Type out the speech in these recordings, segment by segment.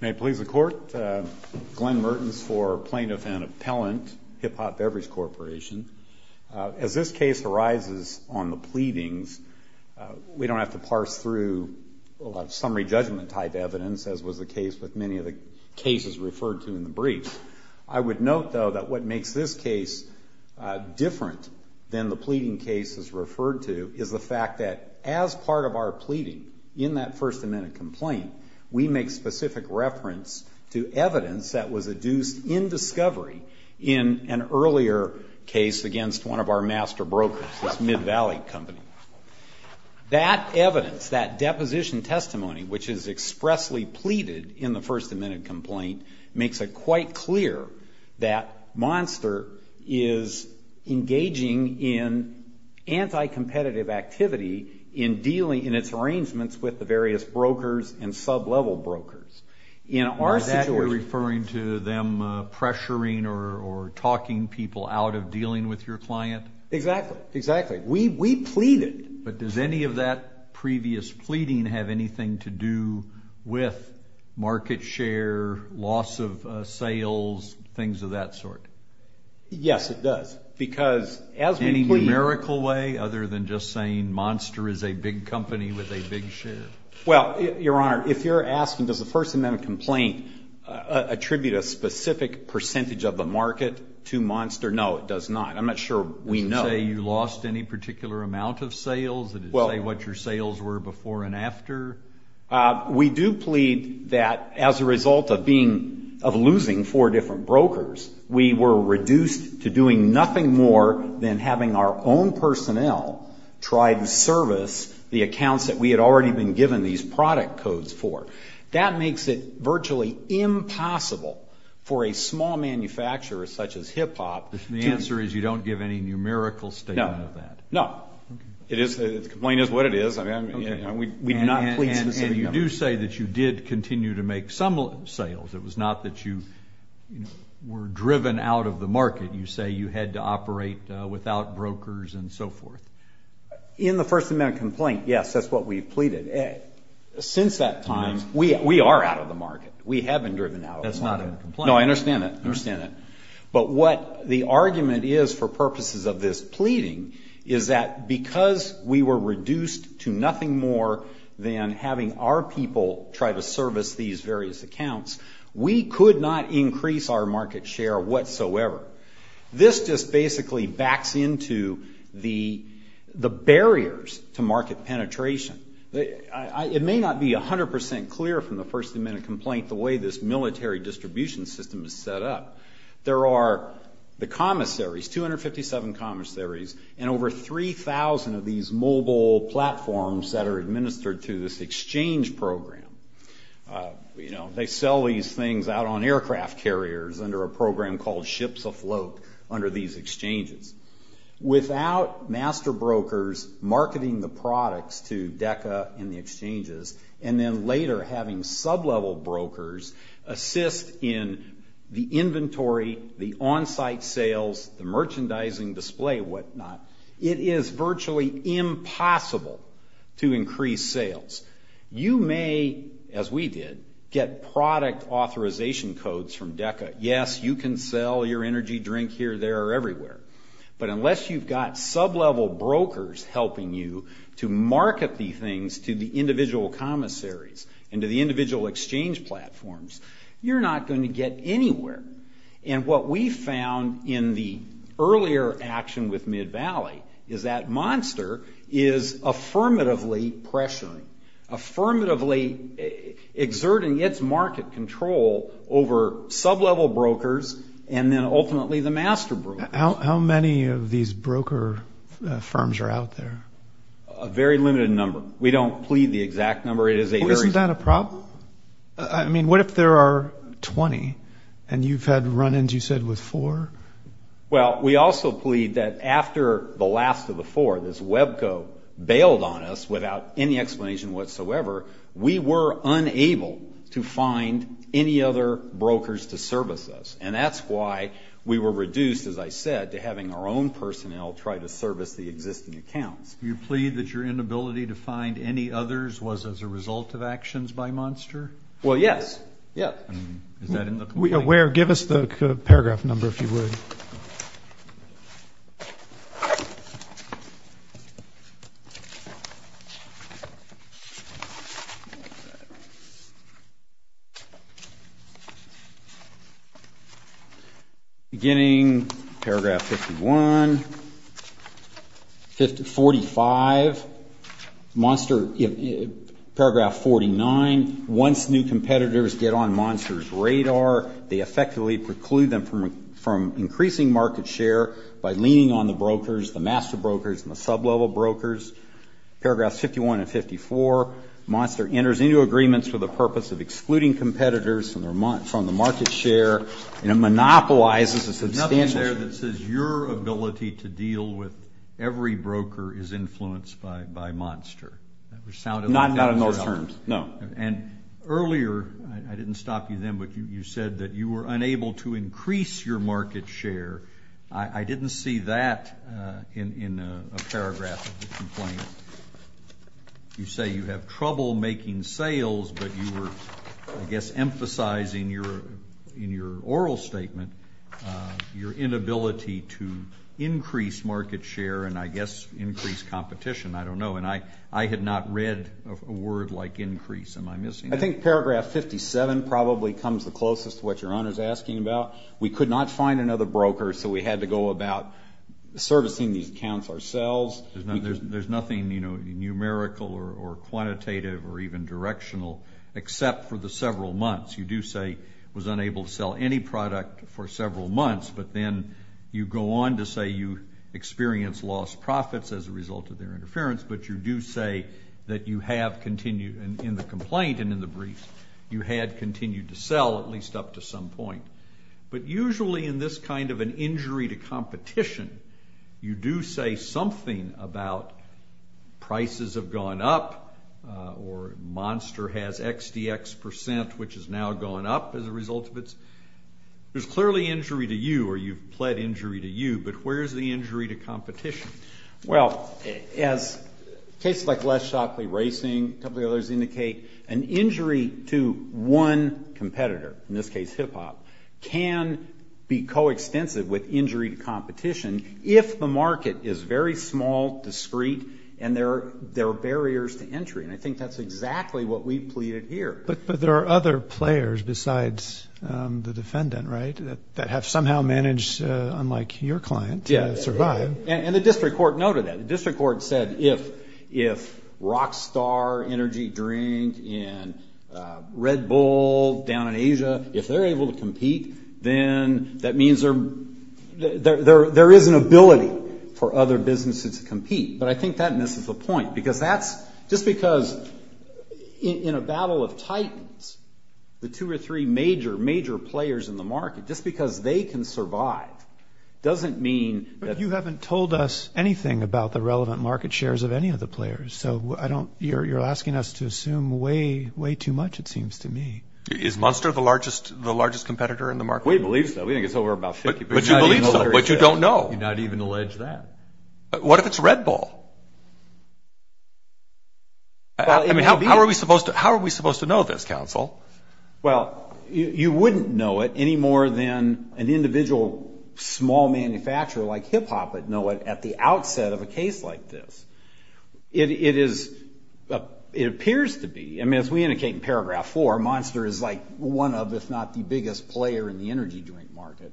May it please the Court, Glen Mertens for Plaintiff and Appellant, Hip Hop Beverage Corporation. As this case arises on the pleadings, we don't have to parse through a lot of summary judgment type evidence, as was the case with many of the cases referred to in the brief. I would note, though, that what makes this case different than the pleading cases referred to is the fact that, as part of our pleading in that First Amendment complaint, we make specific reference to evidence that was adduced in discovery in an earlier case against one of our master brokers, this Mid-Valley Company. That evidence, that deposition testimony, which is expressly pleaded in the First Amendment complaint, makes it quite clear that Monster is engaging in anti-competitive activity in its arrangements with the various brokers and sub-level brokers. Is that you're referring to them pressuring or talking people out of dealing with your client? Exactly. We pleaded. But does any of that previous pleading have anything to do with market share, loss of sales, things of that sort? Yes, it does. Any numerical way other than just saying Monster is a big company with a big share? Well, Your Honor, if you're asking does the First Amendment complaint attribute a specific percentage of the market to Monster, no, it does not. I'm not sure we know. Did it say you lost any particular amount of sales? Did it say what your sales were before and after? We do plead that as a result of losing four different brokers, we were reduced to doing nothing more than having our own personnel try to service the accounts that we had already been given these product codes for. That makes it virtually impossible for a small manufacturer such as Hip Hop to You don't give any numerical statement of that? No, no. The complaint is what it is. We do not plead specifically. And you do say that you did continue to make some sales. It was not that you were driven out of the market. You say you had to operate without brokers and so forth. In the First Amendment complaint, yes, that's what we pleaded. Since that time, we are out of the market. We have been driven out of the market. That's not in the complaint. No, I understand that. I understand that. But what the argument is for purposes of this pleading is that because we were reduced to nothing more than having our people try to service these various accounts, we could not increase our market share whatsoever. This just basically backs into the barriers to market penetration. It may not be 100% clear from the First Amendment complaint the way this military distribution system is set up, there are the commissaries, 257 commissaries, and over 3,000 of these mobile platforms that are administered through this exchange program. They sell these things out on aircraft carriers under a program called Ships Afloat under these exchanges. Without master brokers marketing the products to DECA and the exchanges, and then later having sublevel brokers assist in the inventory, the on-site sales, the merchandising display, whatnot, it is virtually impossible to increase sales. You may, as we did, get product authorization codes from DECA. Yes, you can sell your energy drink here, there, or everywhere. But unless you've got sublevel brokers helping you to market these things to the individual commissaries and to the individual exchange platforms, you're not going to get anywhere. And what we found in the earlier action with Mid-Valley is that Monster is affirmatively pressuring, affirmatively exerting its market control over sublevel brokers and then ultimately the master brokers. How many of these broker firms are out there? A very limited number. We don't plead the exact number. Isn't that a problem? I mean, what if there are 20, and you've had run-ins, you said, with four? Well, we also plead that after the last of the four, this Webco bailed on us without any explanation whatsoever, we were unable to find any other brokers to service us. And that's why we were reduced, as I said, to having our own personnel try to service the existing accounts. You plead that your inability to find any others was as a result of actions by Monster? Well, yes. Yeah. Is that in the complaint? Give us the paragraph number, if you would. Beginning paragraph 51, 45. Monster, paragraph 49, once new competitors get on Monster's radar, they effectively preclude them from increasing market share by leaning on the brokers, the master brokers, and the sublevel brokers. Paragraphs 51 and 54, Monster enters into agreements for the purpose of excluding competitors from the market share and it monopolizes the substantial. There's something there that says your ability to deal with every broker is influenced by Monster. Not in those terms, no. And earlier, I didn't stop you then, but you said that you were unable to increase your market share. I didn't see that in a paragraph of the complaint. You say you have trouble making sales, but you were, I guess, emphasizing in your oral statement, your inability to increase market share and, I guess, increase competition. I don't know. And I had not read a word like increase. Am I missing that? I think paragraph 57 probably comes the closest to what your Honor is asking about. We could not find another broker, so we had to go about servicing these accounts ourselves. There's nothing, you know, numerical or quantitative or even directional, except for the several months. You do say was unable to sell any product for several months, but then you go on to say you experienced lost profits as a result of their interference, but you do say that you have continued, in the complaint and in the brief, you had continued to sell at least up to some point. But usually in this kind of an injury to competition, you do say something about prices have gone up or Monster has XDX percent, which has now gone up as a result of its. There's clearly injury to you or you've pled injury to you, but where's the injury to competition? Well, as cases like Les Shockley Racing, a couple of the others indicate, an injury to one competitor, in this case hip-hop, can be co-extensive with injury to competition if the market is very small, discreet, and there are barriers to entry, and I think that's exactly what we've pleaded here. But there are other players besides the defendant, right, that have somehow managed, unlike your client, to survive. And the district court noted that. The district court said if Rockstar Energy Drink and Red Bull down in Asia, if they're able to compete, then that means there is an ability for other businesses to compete. But I think that misses the point, because that's just because in a battle of titans, the two or three major, major players in the market, just because they can survive doesn't mean that they can't. But you haven't told us anything about the relevant market shares of any of the players, so you're asking us to assume way, way too much, it seems to me. Is Munster the largest competitor in the market? We believe so. We think it's over about 50%. But you believe so, but you don't know. You did not even allege that. What if it's Red Bull? I mean, how are we supposed to know this, counsel? Well, you wouldn't know it any more than an individual small manufacturer like hip-hop would know it at the outset of a case like this. It appears to be. I mean, as we indicate in paragraph four, Munster is like one of, if not the biggest player in the energy joint market.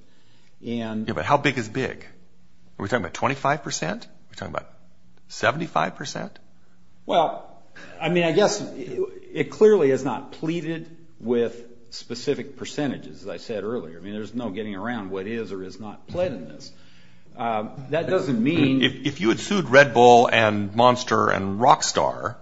Yeah, but how big is big? Are we talking about 25%? Are we talking about 75%? Well, I mean, I guess it clearly is not pleaded with specific percentages, as I said earlier. I mean, there's no getting around what is or is not pled in this. That doesn't mean. If you had sued Red Bull and Munster and Rockstar,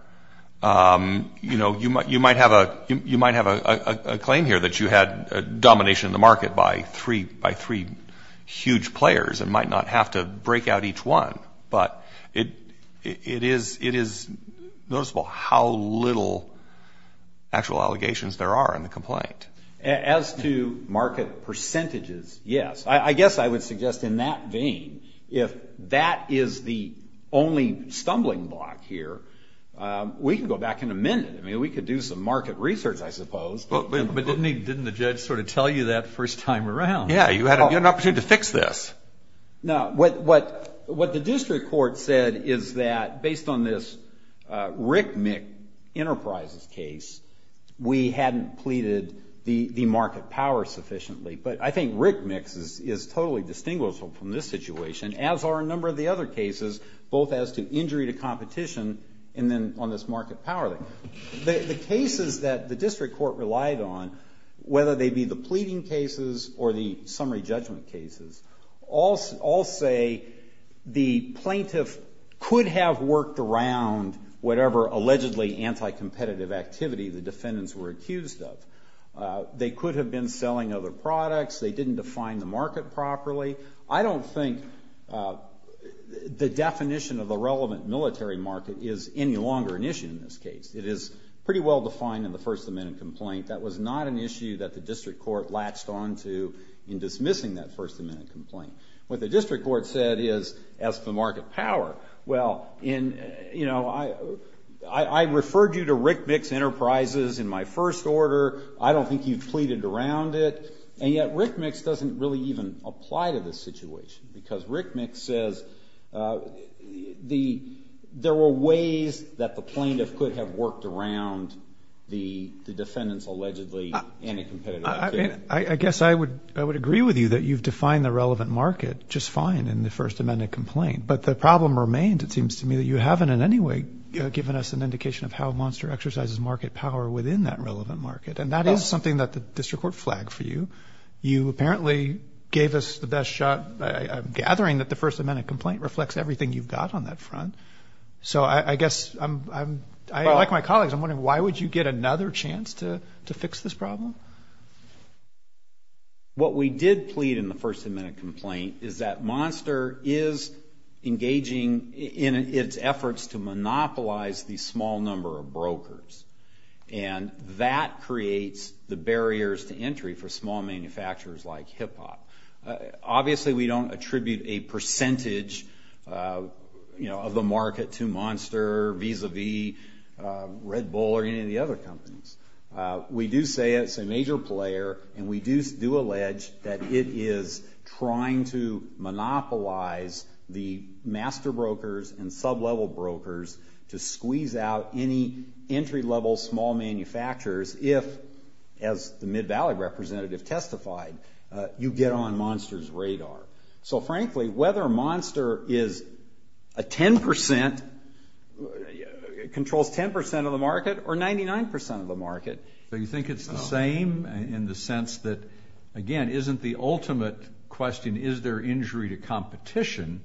you know, you might have a claim here that you had domination of the market by three huge players and might not have to break out each one. But it is noticeable how little actual allegations there are in the complaint. As to market percentages, yes. I guess I would suggest in that vein, if that is the only stumbling block here, we can go back in a minute. I mean, we could do some market research, I suppose. But didn't the judge sort of tell you that first time around? Yeah, you had an opportunity to fix this. No, what the district court said is that based on this Rick Mick Enterprises case, we hadn't pleaded the market power sufficiently. But I think Rick Mick is totally distinguishable from this situation, as are a number of the other cases, both as to injury to competition and then on this market power thing. The cases that the district court relied on, whether they be the pleading cases or the summary judgment cases, all say the plaintiff could have worked around whatever allegedly anti-competitive activity the defendants were accused of. They could have been selling other products. They didn't define the market properly. I don't think the definition of the relevant military market is any longer an issue in this case. It is pretty well defined in the First Amendment complaint. That was not an issue that the district court latched onto in dismissing that First Amendment complaint. What the district court said is, as for market power, well, you know, I referred you to Rick Mick's Enterprises in my first order. I don't think you've pleaded around it. And yet Rick Mick's doesn't really even apply to this situation because Rick Mick says there were ways that the plaintiff could have worked around the defendants' allegedly anti-competitive activity. I guess I would agree with you that you've defined the relevant market just fine in the First Amendment complaint. But the problem remains, it seems to me, that you haven't in any way given us an indication of how Monster exercises market power within that relevant market. And that is something that the district court flagged for you. You apparently gave us the best shot at gathering that the First Amendment complaint reflects everything you've got on that front. So I guess I'm, like my colleagues, I'm wondering why would you get another chance to fix this problem? What we did plead in the First Amendment complaint is that Monster is engaging in its efforts to monopolize the small number of brokers. And that creates the barriers to entry for small manufacturers like Hip Hop. Obviously, we don't attribute a percentage of the market to Monster, Visa V, Red Bull, or any of the other companies. We do say it's a major player, and we do allege that it is trying to monopolize the master brokers and sub-level brokers to squeeze out any entry-level small manufacturers if, as the Mid-Valley representative testified, you get on Monster's radar. So frankly, whether Monster controls 10% of the market or 99% of the market. So you think it's the same in the sense that, again, isn't the ultimate question, is there injury to competition?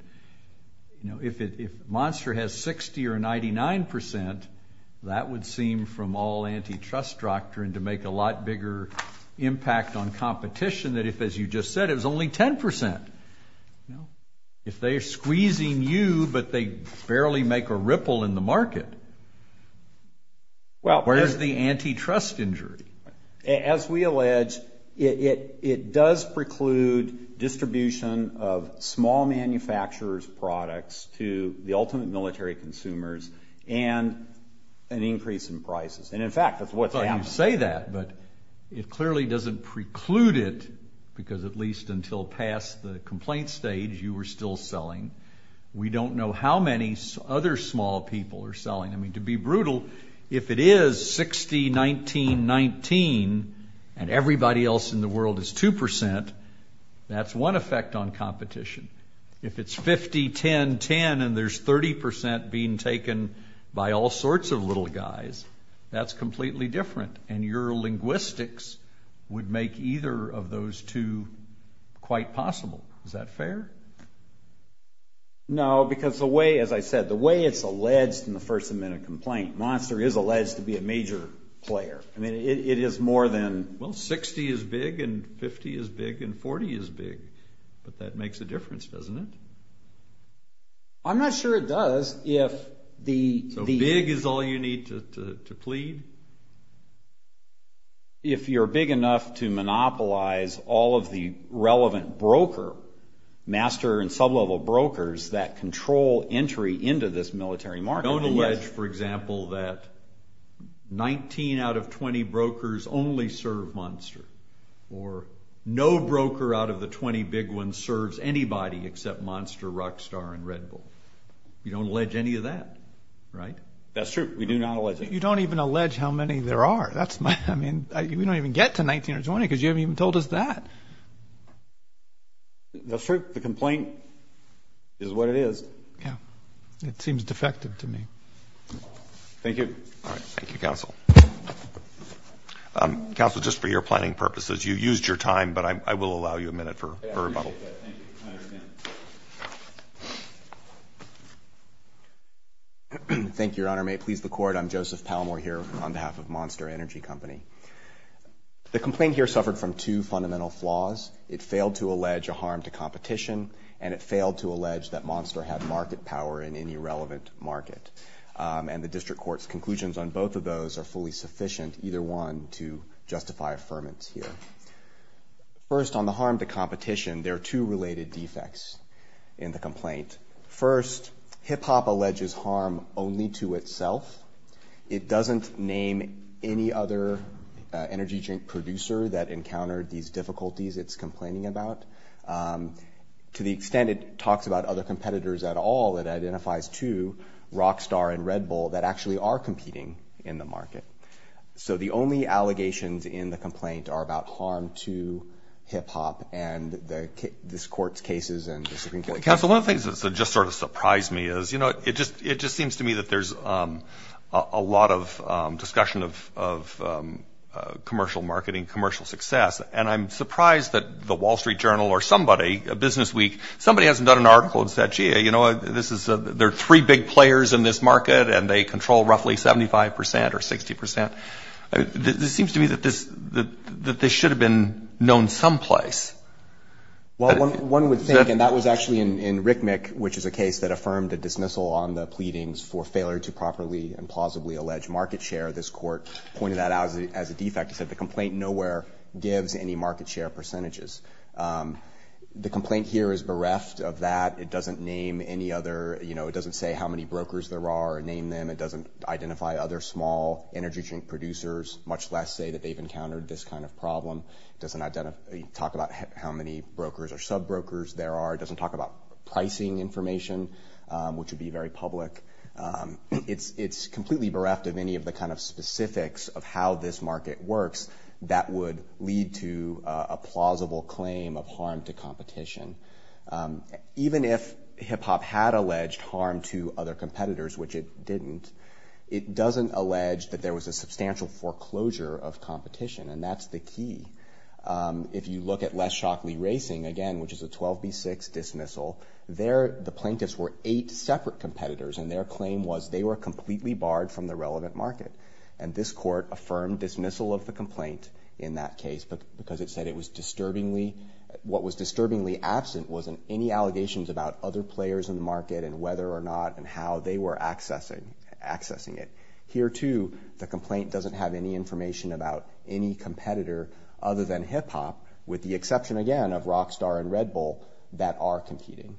If Monster has 60% or 99%, that would seem from all antitrust doctrine to make a lot bigger impact on competition that if, as you just said, it was only 10%. If they're squeezing you but they barely make a ripple in the market, where's the antitrust injury? As we allege, it does preclude distribution of small manufacturers' products to the ultimate military consumers and an increase in prices. And in fact, that's what's happening. I thought you'd say that, but it clearly doesn't preclude it because at least until past the complaint stage, you were still selling. We don't know how many other small people are selling. I mean, to be brutal, if it is 60, 19, 19, and everybody else in the world is 2%, that's one effect on competition. If it's 50, 10, 10, and there's 30% being taken by all sorts of little guys, that's completely different. And your linguistics would make either of those two quite possible. Is that fair? No, because the way, as I said, the way it's alleged in the First Amendment complaint, Monster is alleged to be a major player. I mean, it is more than... Well, 60 is big and 50 is big and 40 is big, but that makes a difference, doesn't it? I'm not sure it does if the... So big is all you need to plead? If you're big enough to monopolize all of the relevant broker, master and sub-level brokers that control entry into this military market. You don't allege, for example, that 19 out of 20 brokers only serve Monster or no broker out of the 20 big ones serves anybody except Monster, Rockstar, and Red Bull. You don't allege any of that, right? That's true. We do not allege it. You don't even allege how many there are. I mean, we don't even get to 19 or 20 because you haven't even told us that. That's true. The complaint is what it is. Yeah. It seems defective to me. Thank you. All right. Thank you, Counsel. Counsel, just for your planning purposes, you used your time, but I will allow you a minute for rebuttal. I appreciate that. Thank you. I understand. Thank you, Your Honor. May it please the Court, I'm Joseph Palmore here on behalf of Monster Energy Company. The complaint here suffered from two fundamental flaws. It failed to allege a harm to competition, and it failed to allege that Monster had market power in any relevant market. And the district court's conclusions on both of those are fully sufficient, either one, to justify affirmance here. First, on the harm to competition, there are two related defects in the complaint. First, Hip Hop alleges harm only to itself. It doesn't name any other energy drink producer that encountered these difficulties. It's complaining about. To the extent it talks about other competitors at all, it identifies two, Rockstar and Red Bull, that actually are competing in the market. So the only allegations in the complaint are about harm to Hip Hop and this court's cases. Counsel, one of the things that just sort of surprised me is, you know, it just seems to me that there's a lot of discussion of commercial marketing, commercial success. And I'm surprised that the Wall Street Journal or somebody, Businessweek, somebody hasn't done an article and said, gee, you know, this is a ‑‑ there are three big players in this market, and they control roughly 75 percent or 60 percent. This seems to me that this should have been known someplace. Well, one would think, and that was actually in Rick Mick, which is a case that affirmed a dismissal on the pleadings for failure to properly and plausibly allege market share. This court pointed that out as a defect. Like I said, the complaint nowhere gives any market share percentages. The complaint here is bereft of that. It doesn't name any other, you know, it doesn't say how many brokers there are or name them. It doesn't identify other small energy drink producers, much less say that they've encountered this kind of problem. It doesn't talk about how many brokers or subbrokers there are. It doesn't talk about pricing information, which would be very public. It's completely bereft of any of the kind of specifics of how this market works that would lead to a plausible claim of harm to competition. Even if HIPHOP had alleged harm to other competitors, which it didn't, it doesn't allege that there was a substantial foreclosure of competition, and that's the key. If you look at Les Shockley Racing, again, which is a 12B6 dismissal, there the plaintiffs were eight separate competitors, and their claim was they were completely barred from the relevant market. And this court affirmed dismissal of the complaint in that case because it said it was disturbingly, what was disturbingly absent wasn't any allegations about other players in the market and whether or not and how they were accessing it. Here, too, the complaint doesn't have any information about any competitor other than HIPHOP, with the exception, again, of Rockstar and Red Bull that are competing.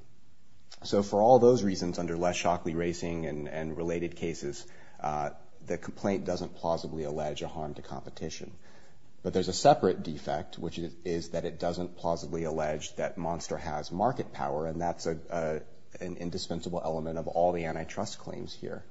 So for all those reasons under Les Shockley Racing and related cases, the complaint doesn't plausibly allege a harm to competition. But there's a separate defect, which is that it doesn't plausibly allege that Monster has market power, and that's an indispensable element of all the antitrust claims here.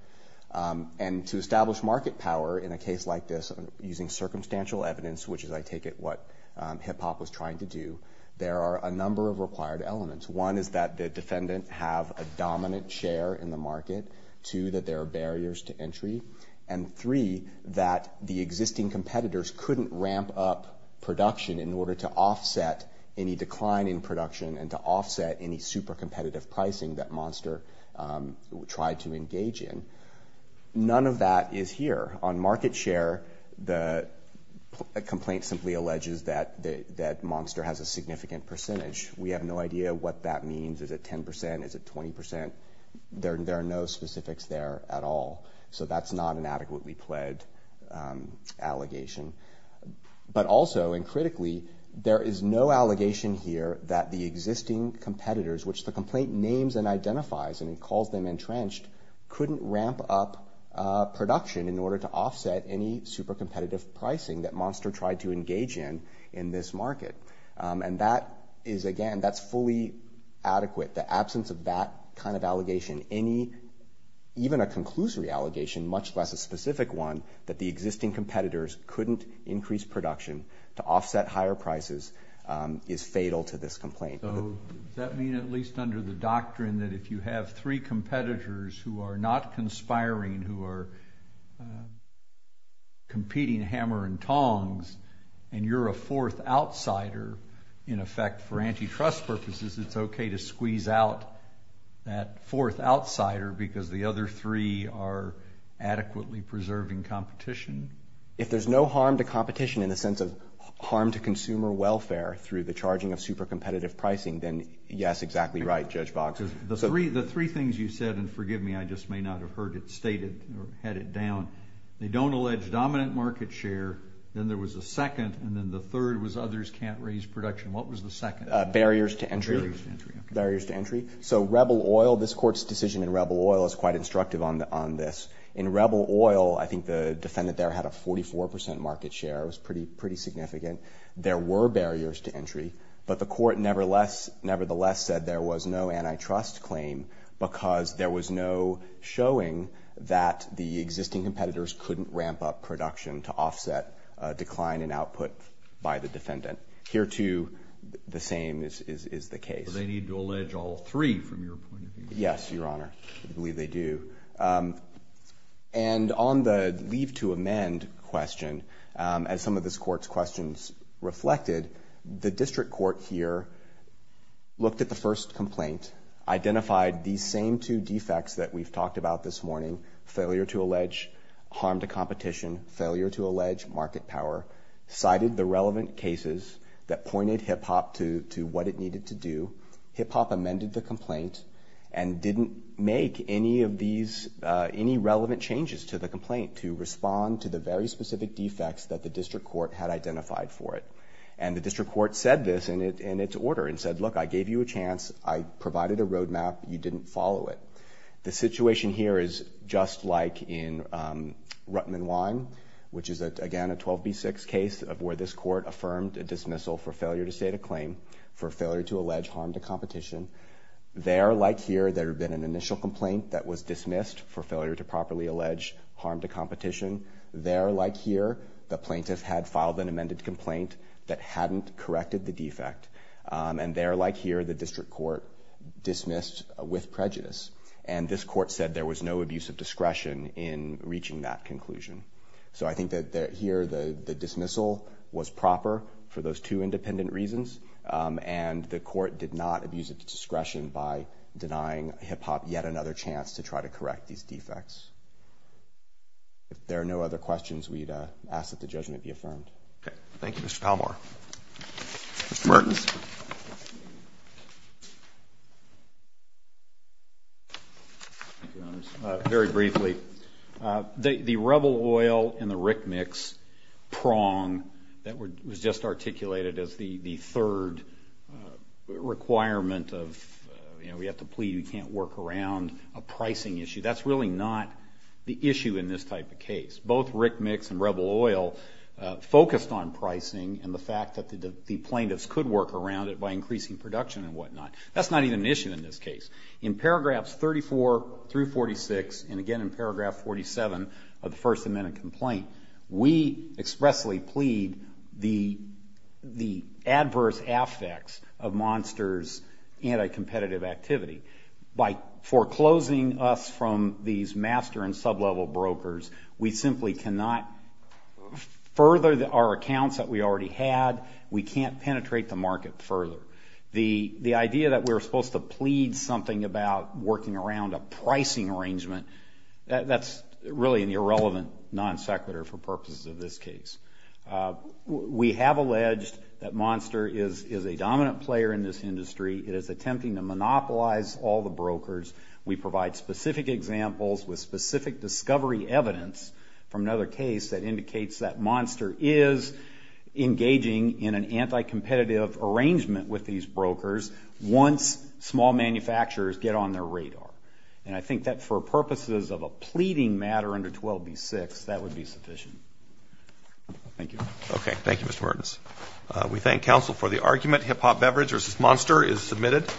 And to establish market power in a case like this using circumstantial evidence, which is, I take it, what HIPHOP was trying to do, there are a number of required elements. One is that the defendant have a dominant share in the market. Two, that there are barriers to entry. And three, that the existing competitors couldn't ramp up production in order to offset any decline in production and to offset any super competitive pricing that Monster tried to engage in. None of that is here. On market share, the complaint simply alleges that Monster has a significant percentage. We have no idea what that means. Is it 10 percent? Is it 20 percent? There are no specifics there at all. So that's not an adequately pledged allegation. But also, and critically, there is no allegation here that the existing competitors, which the complaint names and identifies and calls them entrenched, couldn't ramp up production in order to offset any super competitive pricing that Monster tried to engage in in this market. And that is, again, that's fully adequate. The absence of that kind of allegation, even a conclusory allegation, much less a specific one, that the existing competitors couldn't increase production to offset higher prices is fatal to this complaint. So does that mean at least under the doctrine that if you have three competitors who are not conspiring, who are competing hammer and tongs, and you're a fourth outsider, in effect, for antitrust purposes, it's okay to squeeze out that fourth outsider because the other three are adequately preserving competition? If there's no harm to competition in the sense of harm to consumer welfare through the charging of super competitive pricing, then yes, exactly right, Judge Boggs. The three things you said, and forgive me, I just may not have heard it stated or had it down, they don't allege dominant market share, then there was a second, and then the third was others can't raise production. What was the second? Barriers to entry. Barriers to entry, okay. Barriers to entry. So Rebel Oil, this Court's decision in Rebel Oil is quite instructive on this. In Rebel Oil, I think the defendant there had a 44% market share. It was pretty significant. There were barriers to entry, but the Court nevertheless said there was no antitrust claim because there was no showing that the existing competitors couldn't ramp up production to offset a decline in output by the defendant. Here, too, the same is the case. So they need to allege all three from your point of view? Yes, Your Honor. I believe they do. And on the leave to amend question, as some of this Court's questions reflected, the district court here looked at the first complaint, identified these same two defects that we've talked about this morning, failure to allege harm to competition, failure to allege market power, cited the relevant cases that pointed HIPPOP to what it needed to do. HIPPOP amended the complaint and didn't make any relevant changes to the complaint to respond to the very specific defects that the district court had identified for it. And the district court said this in its order and said, Look, I gave you a chance. I provided a roadmap. You didn't follow it. The situation here is just like in Rutman Wine, which is, again, a 12B6 case where this Court affirmed a dismissal for failure to state a claim, for failure to allege harm to competition. There, like here, there had been an initial complaint that was dismissed for failure to properly allege harm to competition. There, like here, the plaintiff had filed an amended complaint that hadn't corrected the defect. And there, like here, the district court dismissed with prejudice. And this Court said there was no abuse of discretion in reaching that conclusion. So I think that here the dismissal was proper for those two independent reasons, and the Court did not abuse its discretion by denying HIPPOP yet another chance to try to correct these defects. If there are no other questions, we'd ask that the judgment be affirmed. Thank you, Mr. Palmore. Mr. Mertens. Very briefly. The Rebel Oil and the Rick Mix prong that was just articulated as the third requirement of, you know, we have to plead, we can't work around a pricing issue, that's really not the issue in this type of case. Both Rick Mix and Rebel Oil focused on pricing and the fact that the plaintiffs could work around it by increasing production and whatnot. That's not even an issue in this case. In paragraphs 34 through 46, and again in paragraph 47 of the First Amendment complaint, we expressly plead the adverse effects of Monster's anti-competitive activity. By foreclosing us from these master and sub-level brokers, we simply cannot further our accounts that we already had. We can't penetrate the market further. The idea that we're supposed to plead something about working around a pricing arrangement, that's really an irrelevant non sequitur for purposes of this case. We have alleged that Monster is a dominant player in this industry. It is attempting to monopolize all the brokers. We provide specific examples with specific discovery evidence from another case that indicates that Monster is engaging in an anti-competitive arrangement with these brokers once small manufacturers get on their radar. And I think that for purposes of a pleading matter under 12B6, that would be sufficient. Thank you. Okay. Thank you, Mr. Martins. We thank counsel for the argument. Hip Hop Beverage v. Monster is submitted.